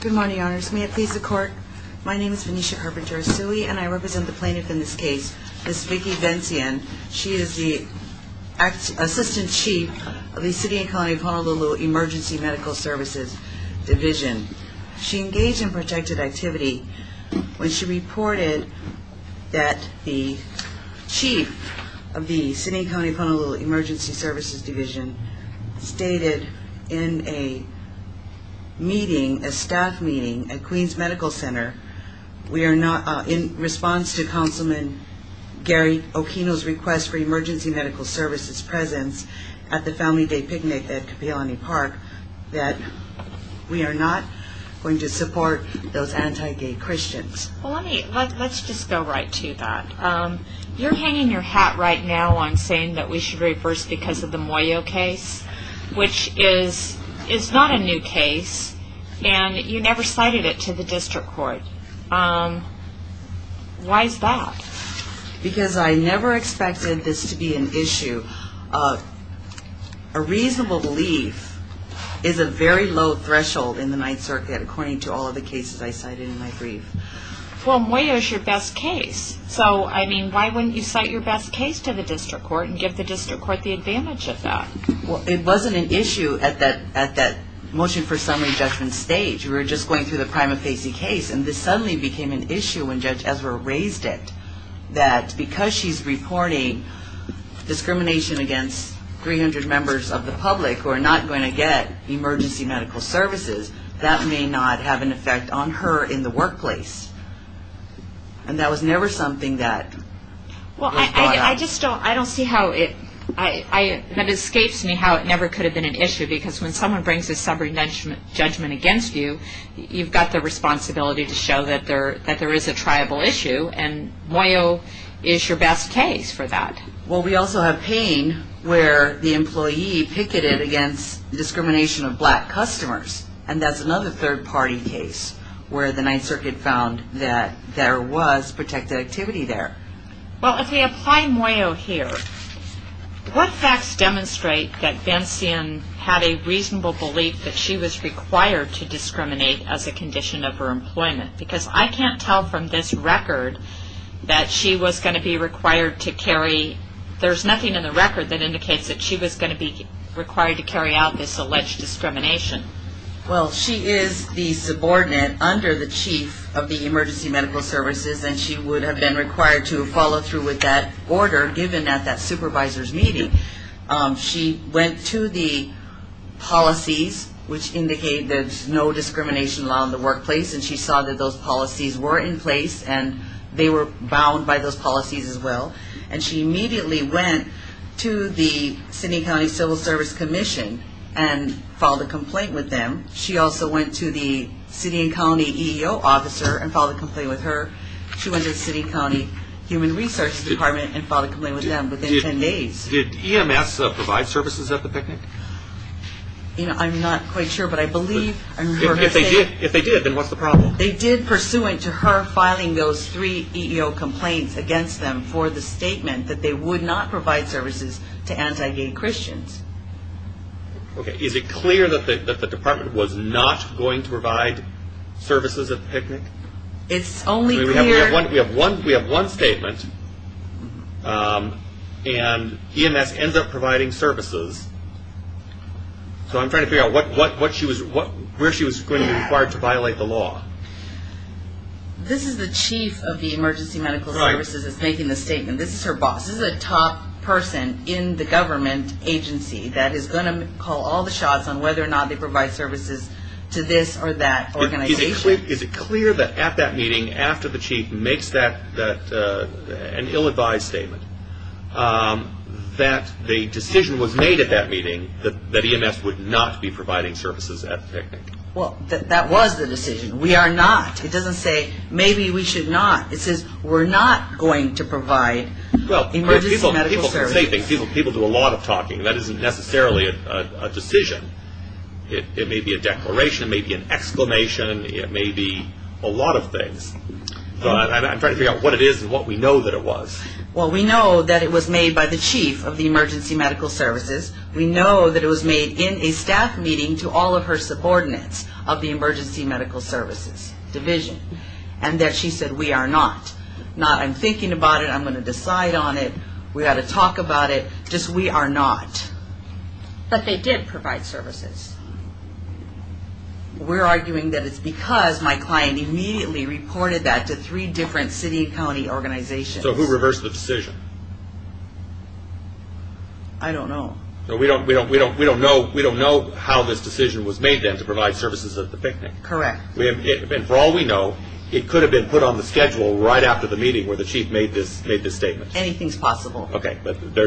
Good morning, Your Honors. May it please the Court, my name is Venetia Carpenter-Asui and I represent the plaintiff in this case, Ms. Vicki Bentzien. She is the Assistant Chief of the City and County of Honolulu Emergency Medical Services Division. She engaged in protected activity when she reported that the Chief of the City and County of Honolulu Emergency Services Division stated in a meeting, a staff meeting at Queens Medical Center, in response to Councilman Gary Okino's request for emergency medical services presence at the Family Day picnic at Kapi'olani Park, that we are not going to support those anti-gay Christians. Let's just go right to that. You're hanging your hat right now on saying that we should reverse because of the Moyo case, which is not a new case and you never cited it to the District Court. Why is that? Because I never expected this to be an issue. A reasonable belief is a very low threshold in the Ninth Circuit, according to all of the cases I cited in my brief. Well, Moyo is your best case. So, I mean, why wouldn't you cite your best case to the District Court and give the District Court the advantage of that? Well, it wasn't an issue at that motion for summary judgment stage. We were just going through the Prima Facie case, and this suddenly became an issue when Judge Ezra raised it, that because she's reporting discrimination against 300 members of the public who are not going to get emergency medical services, that may not have an effect on her in the workplace. And that was never something that was brought up. Well, I just don't see how it escapes me how it never could have been an issue, because when someone brings a summary judgment against you, you've got the responsibility to show that there is a triable issue, and Moyo is your best case for that. Well, we also have Payne, where the employee picketed against discrimination of black customers, and that's another third-party case where the Ninth Circuit found that there was protected activity there. Well, if we apply Moyo here, what facts demonstrate that Bencion had a reasonable belief that she was required to discriminate as a condition of her employment? Because I can't tell from this record that she was going to be required to carry there's nothing in the record that indicates that she was going to be required to carry out this alleged discrimination. Well, she is the subordinate under the chief of the emergency medical services, and she would have been required to follow through with that order given at that supervisor's meeting. She went to the policies, which indicate there's no discrimination law in the workplace, and she saw that those policies were in place, and they were bound by those policies as well, and she immediately went to the Sidney County Civil Service Commission and filed a complaint with them. She also went to the Sidney County EEO officer and filed a complaint with her. She went to the Sidney County Human Research Department and filed a complaint with them within 10 days. Did EMS provide services at the picnic? I'm not quite sure, but I believe. If they did, then what's the problem? They did, pursuant to her filing those three EEO complaints against them for the statement that they would not provide services to anti-gay Christians. Okay, is it clear that the department was not going to provide services at the picnic? It's only clear... We have one statement, and EMS ends up providing services. So I'm trying to figure out where she was going to be required to violate the law. This is the chief of the emergency medical services that's making the statement. This is her boss. This is a top person in the government agency that is going to call all the shots on whether or not they provide services to this or that organization. Is it clear that at that meeting, after the chief makes an ill-advised statement, that the decision was made at that meeting that EMS would not be providing services at the picnic? Well, that was the decision. We are not. It doesn't say maybe we should not. It says we're not going to provide emergency medical services. People do a lot of talking. That isn't necessarily a decision. It may be a declaration. It may be an exclamation. It may be a lot of things. I'm trying to figure out what it is and what we know that it was. Well, we know that it was made by the chief of the emergency medical services. We know that it was made in a staff meeting to all of her subordinates of the emergency medical services division and that she said we are not. Not I'm thinking about it. I'm going to decide on it. We've got to talk about it. Just we are not. But they did provide services. We're arguing that it's because my client immediately reported that to three different city and county organizations. So who reversed the decision? I don't know. We don't know how this decision was made then to provide services at the picnic. Correct. And for all we know, it could have been put on the schedule right after the meeting where the chief made this statement. Anything is possible. Okay.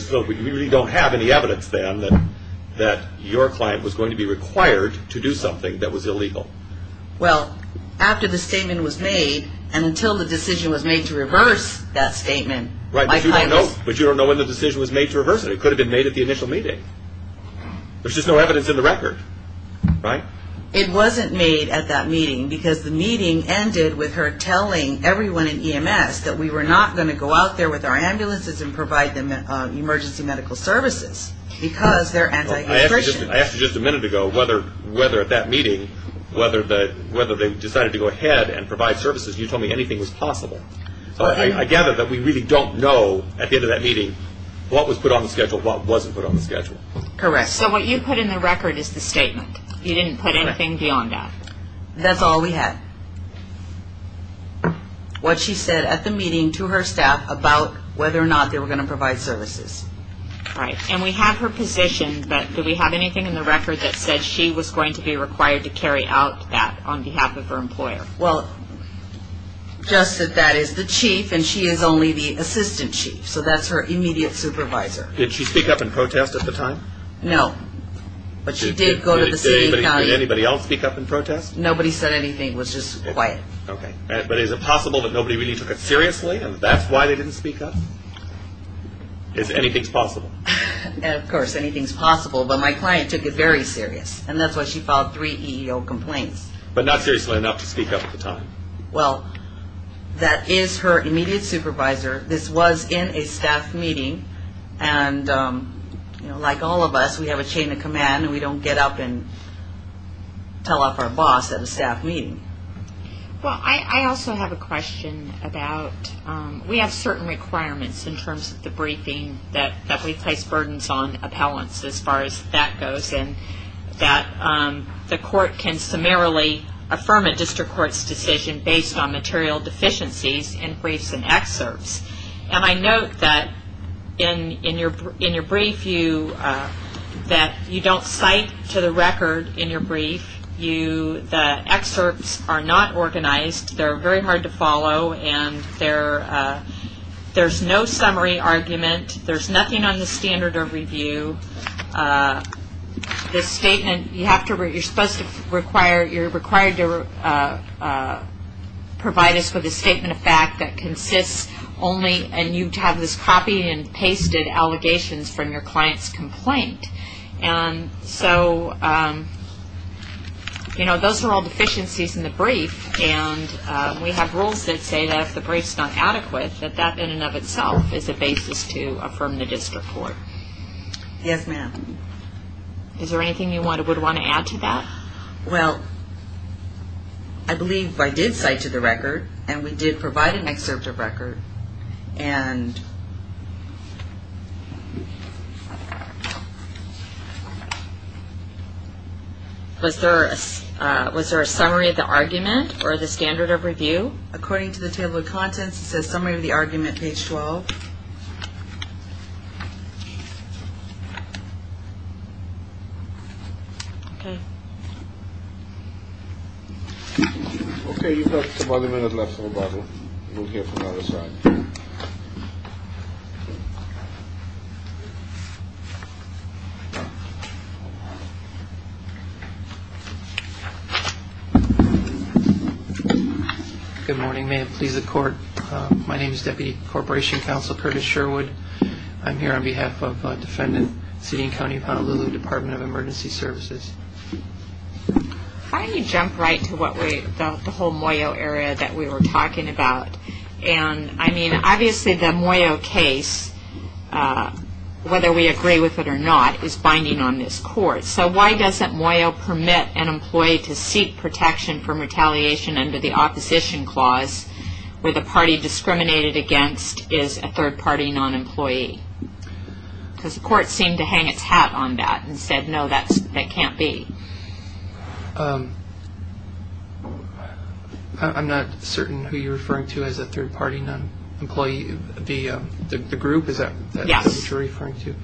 So we don't have any evidence then that your client was going to be required to do something that was illegal. Well, after the statement was made and until the decision was made to reverse that statement. Right. But you don't know when the decision was made to reverse it. It could have been made at the initial meeting. There's just no evidence in the record. Right. It wasn't made at that meeting because the meeting ended with her telling everyone in EMS that we were not going to go out there with our ambulances and provide them emergency medical services because they're anti-nutrition. I asked you just a minute ago whether at that meeting, whether they decided to go ahead and provide services and you told me anything was possible. I gather that we really don't know at the end of that meeting what was put on the schedule, what wasn't put on the schedule. Correct. So what you put in the record is the statement. You didn't put anything beyond that. That's all we had. What she said at the meeting to her staff about whether or not they were going to provide services. Right. And we have her position, but do we have anything in the record that said she was going to be required to carry out that on behalf of her employer? Well, just that that is the chief and she is only the assistant chief, so that's her immediate supervisor. Did she speak up in protest at the time? No. But she did go to the city and county. Did anybody else speak up in protest? Nobody said anything. It was just quiet. Okay. But is it possible that nobody really took it seriously and that's why they didn't speak up? Anything's possible. Of course, anything's possible, but my client took it very serious and that's why she filed three EEO complaints. But not seriously enough to speak up at the time. Well, that is her immediate supervisor. This was in a staff meeting and, you know, like all of us, we have a chain of command and we don't get up and tell off our boss at a staff meeting. Well, I also have a question about we have certain requirements in terms of the briefing that we place burdens on appellants as far as that goes and that the court can summarily affirm a district court's decision based on material deficiencies in briefs and excerpts. And I note that in your brief that you don't cite to the record in your brief that excerpts are not organized, they're very hard to follow, and there's no summary argument. There's nothing on the standard of review. The statement, you have to, you're supposed to require, you're required to provide us with a statement of fact that consists only, and you have this copy and pasted allegations from your client's complaint. And so, you know, those are all deficiencies in the brief and we have rules that say that if the brief's not adequate, that that in and of itself is a basis to affirm the district court. Yes, ma'am. Is there anything you would want to add to that? Well, I believe I did cite to the record and we did provide an excerpt of record and was there a summary of the argument or the standard of review? According to the table of contents, it says summary of the argument, page 12. Okay. Okay. You've got about a minute left on the bottle. We'll hear from the other side. Good morning. May it please the court, my name is Deputy Corporation Counsel Curtis Sherwood. I'm here on behalf of Defendant City and County of Honolulu Department of Emergency Services. Why don't you jump right to the whole Moyo area that we were talking about? And, I mean, obviously the Moyo case, whether we agree with it or not, is binding on this court. So why doesn't Moyo permit an employee to seek protection from retaliation under the opposition clause where the party discriminated against is a third-party non-employee? Because the court seemed to hang its hat on that and said, no, that can't be. I'm not certain who you're referring to as a third-party non-employee. The group, is that what you're referring to?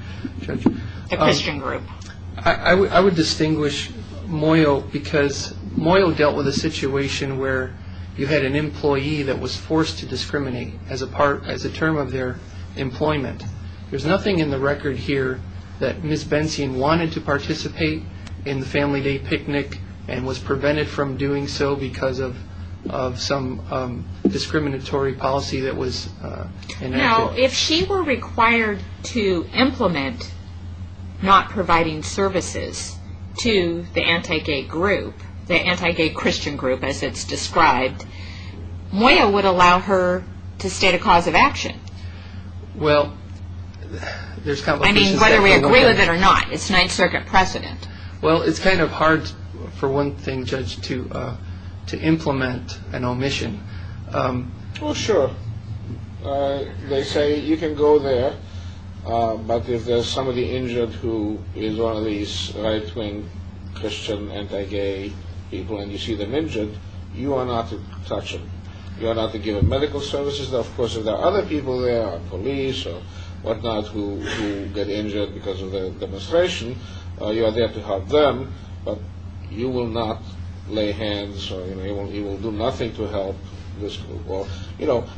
The Christian group. I would distinguish Moyo because Moyo dealt with a situation where you had an employee that was forced to discriminate as a term of their employment. There's nothing in the record here that Ms. Bencian wanted to participate in the family day picnic and was prevented from doing so because of some discriminatory policy that was enacted. Now, if she were required to implement not providing services to the anti-gay group, the anti-gay Christian group as it's described, Moyo would allow her to state a cause of action. Well, there's complications there. I mean, whether we agree with it or not, it's Ninth Circuit precedent. Well, it's kind of hard for one thing, Judge, to implement an omission. Well, sure. They say you can go there, but if there's somebody injured who is one of these right-wing Christian anti-gay people and you see them injured, you are not to touch them. You are not to give them medical services. Of course, if there are other people there, police or whatnot, who get injured because of the demonstration, you are there to help them, but you will not lay hands or you will do nothing to help this group.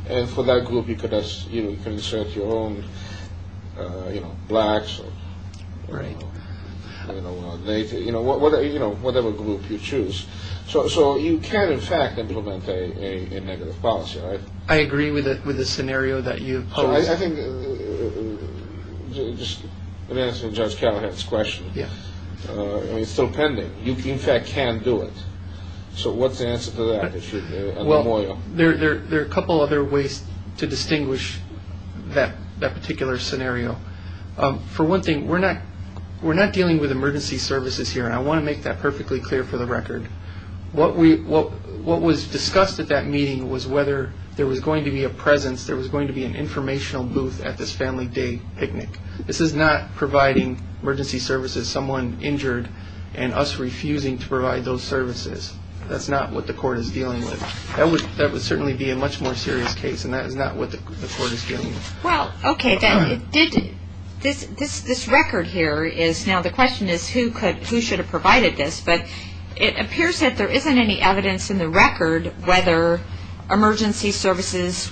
And for that group, you can insert your own blacks or whatever group you choose. So you can, in fact, implement a negative policy. I agree with the scenario that you've posed. I think, just in answer to Judge Callahan's question, it's still pending. You, in fact, can do it. So what's the answer to that? Well, there are a couple other ways to distinguish that particular scenario. For one thing, we're not dealing with emergency services here, and I want to make that perfectly clear for the record. What was discussed at that meeting was whether there was going to be a presence, there was going to be an informational booth at this family day picnic. This is not providing emergency services to someone injured and us refusing to provide those services. That's not what the court is dealing with. That would certainly be a much more serious case, and that is not what the court is dealing with. Well, okay, then, this record here is now the question is who should have provided this, but it appears that there isn't any evidence in the record whether emergency services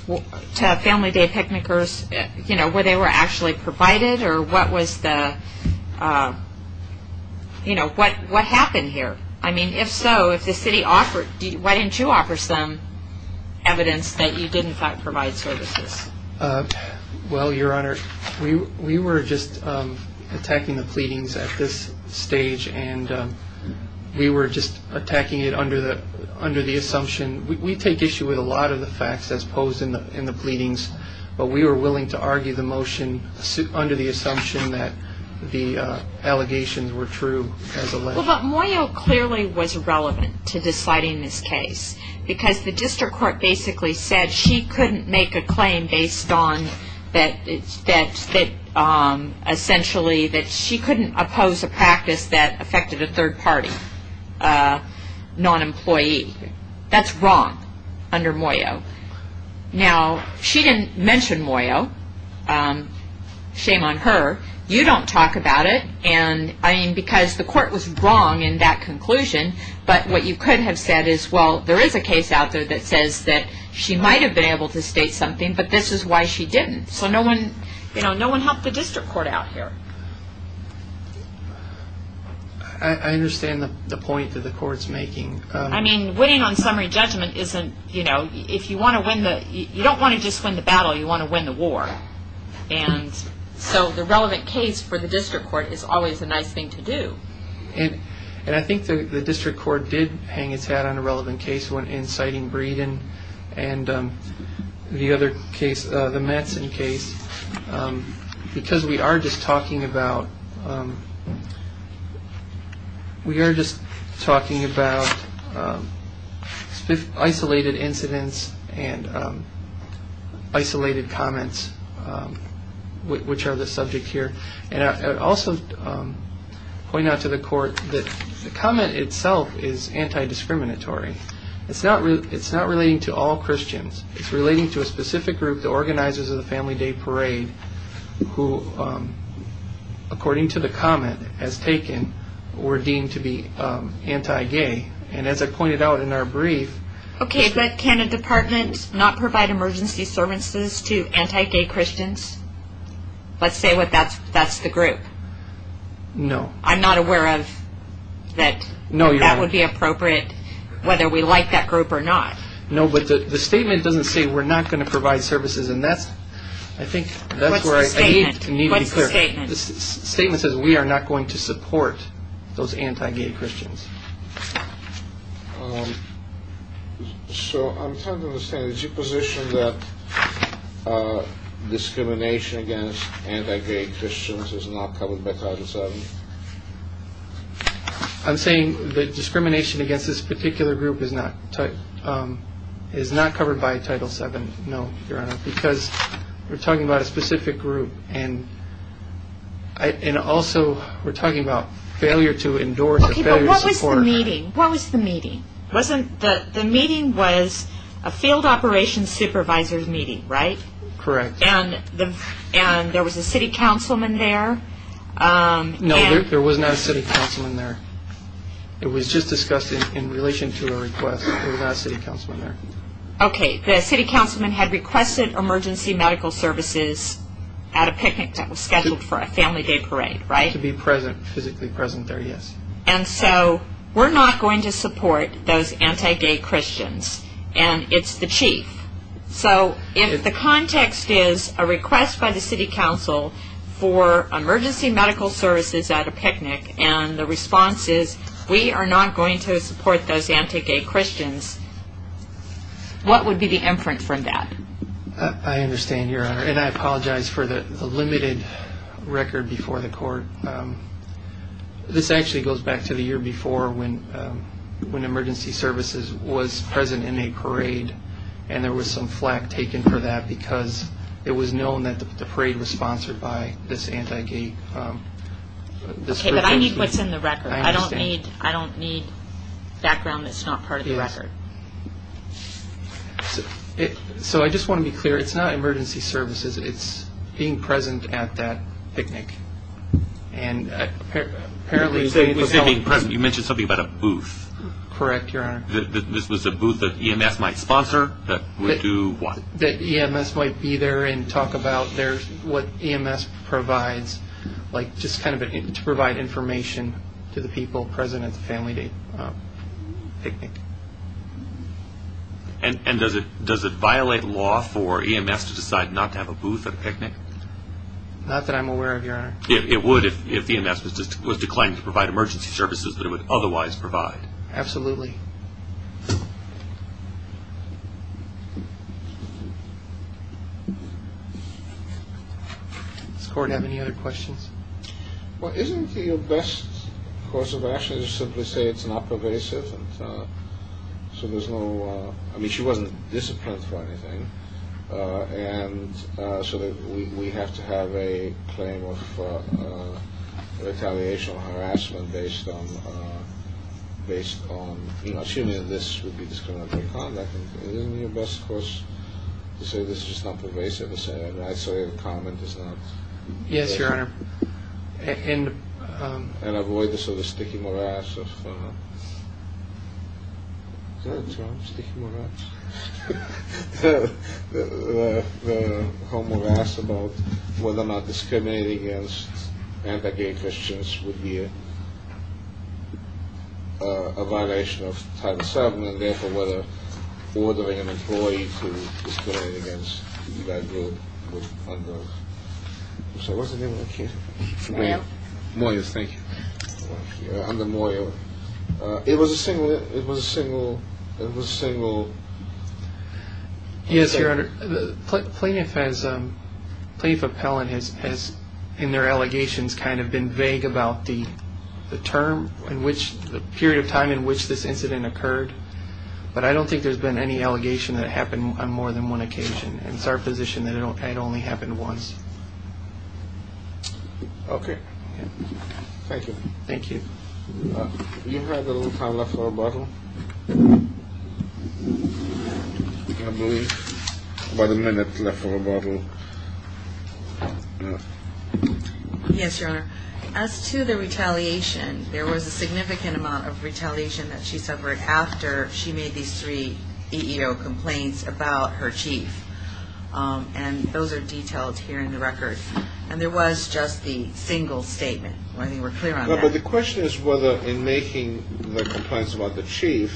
to family day picnickers, you know, where they were actually provided or what was the, you know, what happened here. I mean, if so, if the city offered, why didn't you offer some evidence that you did, in fact, provide services? Well, Your Honor, we were just attacking the pleadings at this stage, and we were just attacking it under the assumption. We take issue with a lot of the facts as posed in the pleadings, but we were willing to argue the motion under the assumption that the allegations were true as alleged. Well, but Moyo clearly was irrelevant to deciding this case because the district court basically said she couldn't make a claim based on that essentially that she couldn't oppose a practice that affected a third-party non-employee. That's wrong under Moyo. Now, she didn't mention Moyo. Shame on her. You don't talk about it, and I mean, because the court was wrong in that conclusion, but what you could have said is, well, there is a case out there that says that she might have been able to state something, but this is why she didn't. So no one, you know, no one helped the district court out here. I understand the point that the court's making. I mean, winning on summary judgment isn't, you know, if you want to win the, you don't want to just win the battle, you want to win the war. And so the relevant case for the district court is always a nice thing to do. And I think the district court did hang its hat on a relevant case when inciting Breeden and the other case, the Mattson case, because we are just talking about, we are just talking about isolated incidents and isolated comments, which are the subject here. And I would also point out to the court that the comment itself is anti-discriminatory. It's not relating to all Christians. It's relating to a specific group, the organizers of the family day parade, who according to the comment as taken were deemed to be anti-gay. And as I pointed out in our brief. Okay, but can a department not provide emergency services to anti-gay Christians? Let's say that's the group. No. I'm not aware of that. No, you're not. That would be appropriate whether we like that group or not. No, but the statement doesn't say we're not going to provide services. And that's, I think, that's where I need to be clear. What's the statement? The statement says we are not going to support those anti-gay Christians. So I'm trying to understand. Is your position that discrimination against anti-gay Christians is not covered by Title VII? I'm saying that discrimination against this particular group is not covered by Title VII. No, Your Honor, because we're talking about a specific group. And also we're talking about failure to endorse. Okay, but what was the meeting? What was the meeting? The meeting was a field operations supervisor's meeting, right? Correct. And there was a city councilman there? No, there was not a city councilman there. It was just discussed in relation to a request. There was not a city councilman there. Okay, the city councilman had requested emergency medical services at a picnic that was scheduled for a family day parade, right? To be physically present there, yes. And so we're not going to support those anti-gay Christians, and it's the chief. So if the context is a request by the city council for emergency medical services at a picnic and the response is we are not going to support those anti-gay Christians, what would be the inference from that? I understand, Your Honor, and I apologize for the limited record before the court. This actually goes back to the year before when emergency services was present in a parade and there was some flak taken for that because it was known that the parade was sponsored by this anti-gay group. Okay, but I need what's in the record. I don't need background that's not part of the record. So I just want to be clear, it's not emergency services. It's being present at that picnic. You mentioned something about a booth. Correct, Your Honor. This was a booth that EMS might sponsor that would do what? That EMS might be there and talk about what EMS provides, like just kind of to provide information to the people present at the family picnic. And does it violate law for EMS to decide not to have a booth at a picnic? Not that I'm aware of, Your Honor. It would if EMS was declining to provide emergency services that it would otherwise provide. Absolutely. Okay. Does the Court have any other questions? Well, isn't the best course of action to simply say it's not pervasive? So there's no, I mean, she wasn't disciplined for anything. And so we have to have a claim of retaliation or harassment based on, you know, assuming this would be discriminatory conduct. Isn't the best course to say this is not pervasive? And I say the comment is not. Yes, Your Honor. And avoid the sort of sticky morass of, is that a term, sticky morass? The homeowner asked about whether or not discriminating against anti-gay Christians would be a violation of Title VII, and therefore whether ordering an employee to discriminate against a gay group under, I'm sorry, what's the name of that case? Moyer. Moyer, thank you. Under Moyer. It was a single, it was a single, it was a single. Yes, Your Honor, the plaintiff has, plaintiff appellant has in their allegations kind of been vague about the term in which, the period of time in which this incident occurred. But I don't think there's been any allegation that it happened on more than one occasion. It's our position that it only happened once. Okay. Thank you. Thank you. You have a little time left for rebuttal. I believe about a minute left for rebuttal. Yes, Your Honor. As to the retaliation, there was a significant amount of retaliation that she suffered after she made these three EEO complaints about her chief. And those are detailed here in the record. And there was just the single statement. I think we're clear on that. No, but the question is whether in making the complaints about the chief,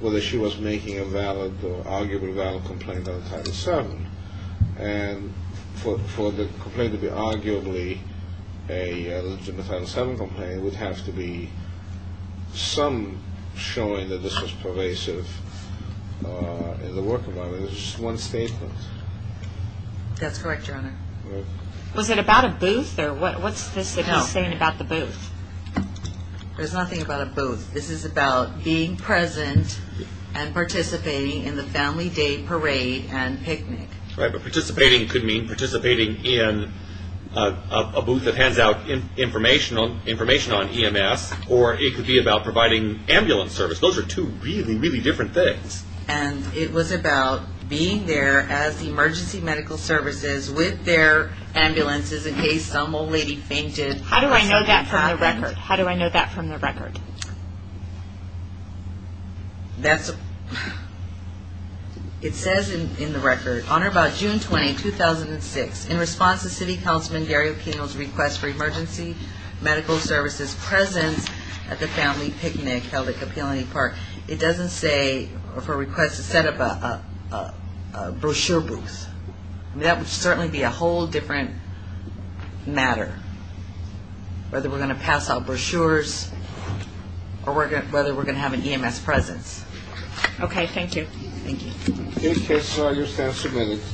whether she was making a valid or arguably valid complaint on Title VII. And for the complaint to be arguably a legitimate Title VII complaint, it would have to be some showing that this was pervasive in the work environment. It was just one statement. That's correct, Your Honor. Was it about a booth, or what's this that he's saying about the booth? There's nothing about a booth. This is about being present and participating in the family day parade and picnic. Right, but participating could mean participating in a booth that hands out information on EMS, or it could be about providing ambulance service. Those are two really, really different things. And it was about being there as the emergency medical services with their ambulances in case some old lady fainted. How do I know that from the record? How do I know that from the record? It says in the record, Honor, by June 20, 2006, in response to City Councilman Gary O'Connell's request for emergency medical services presence at the family picnic held at Kapi'olani Park. It doesn't say for a request to set up a brochure booth. That would certainly be a whole different matter, whether we're going to pass out brochures or whether we're going to have an EMS presence. Okay, thank you. Thank you. These cases are just as submitted.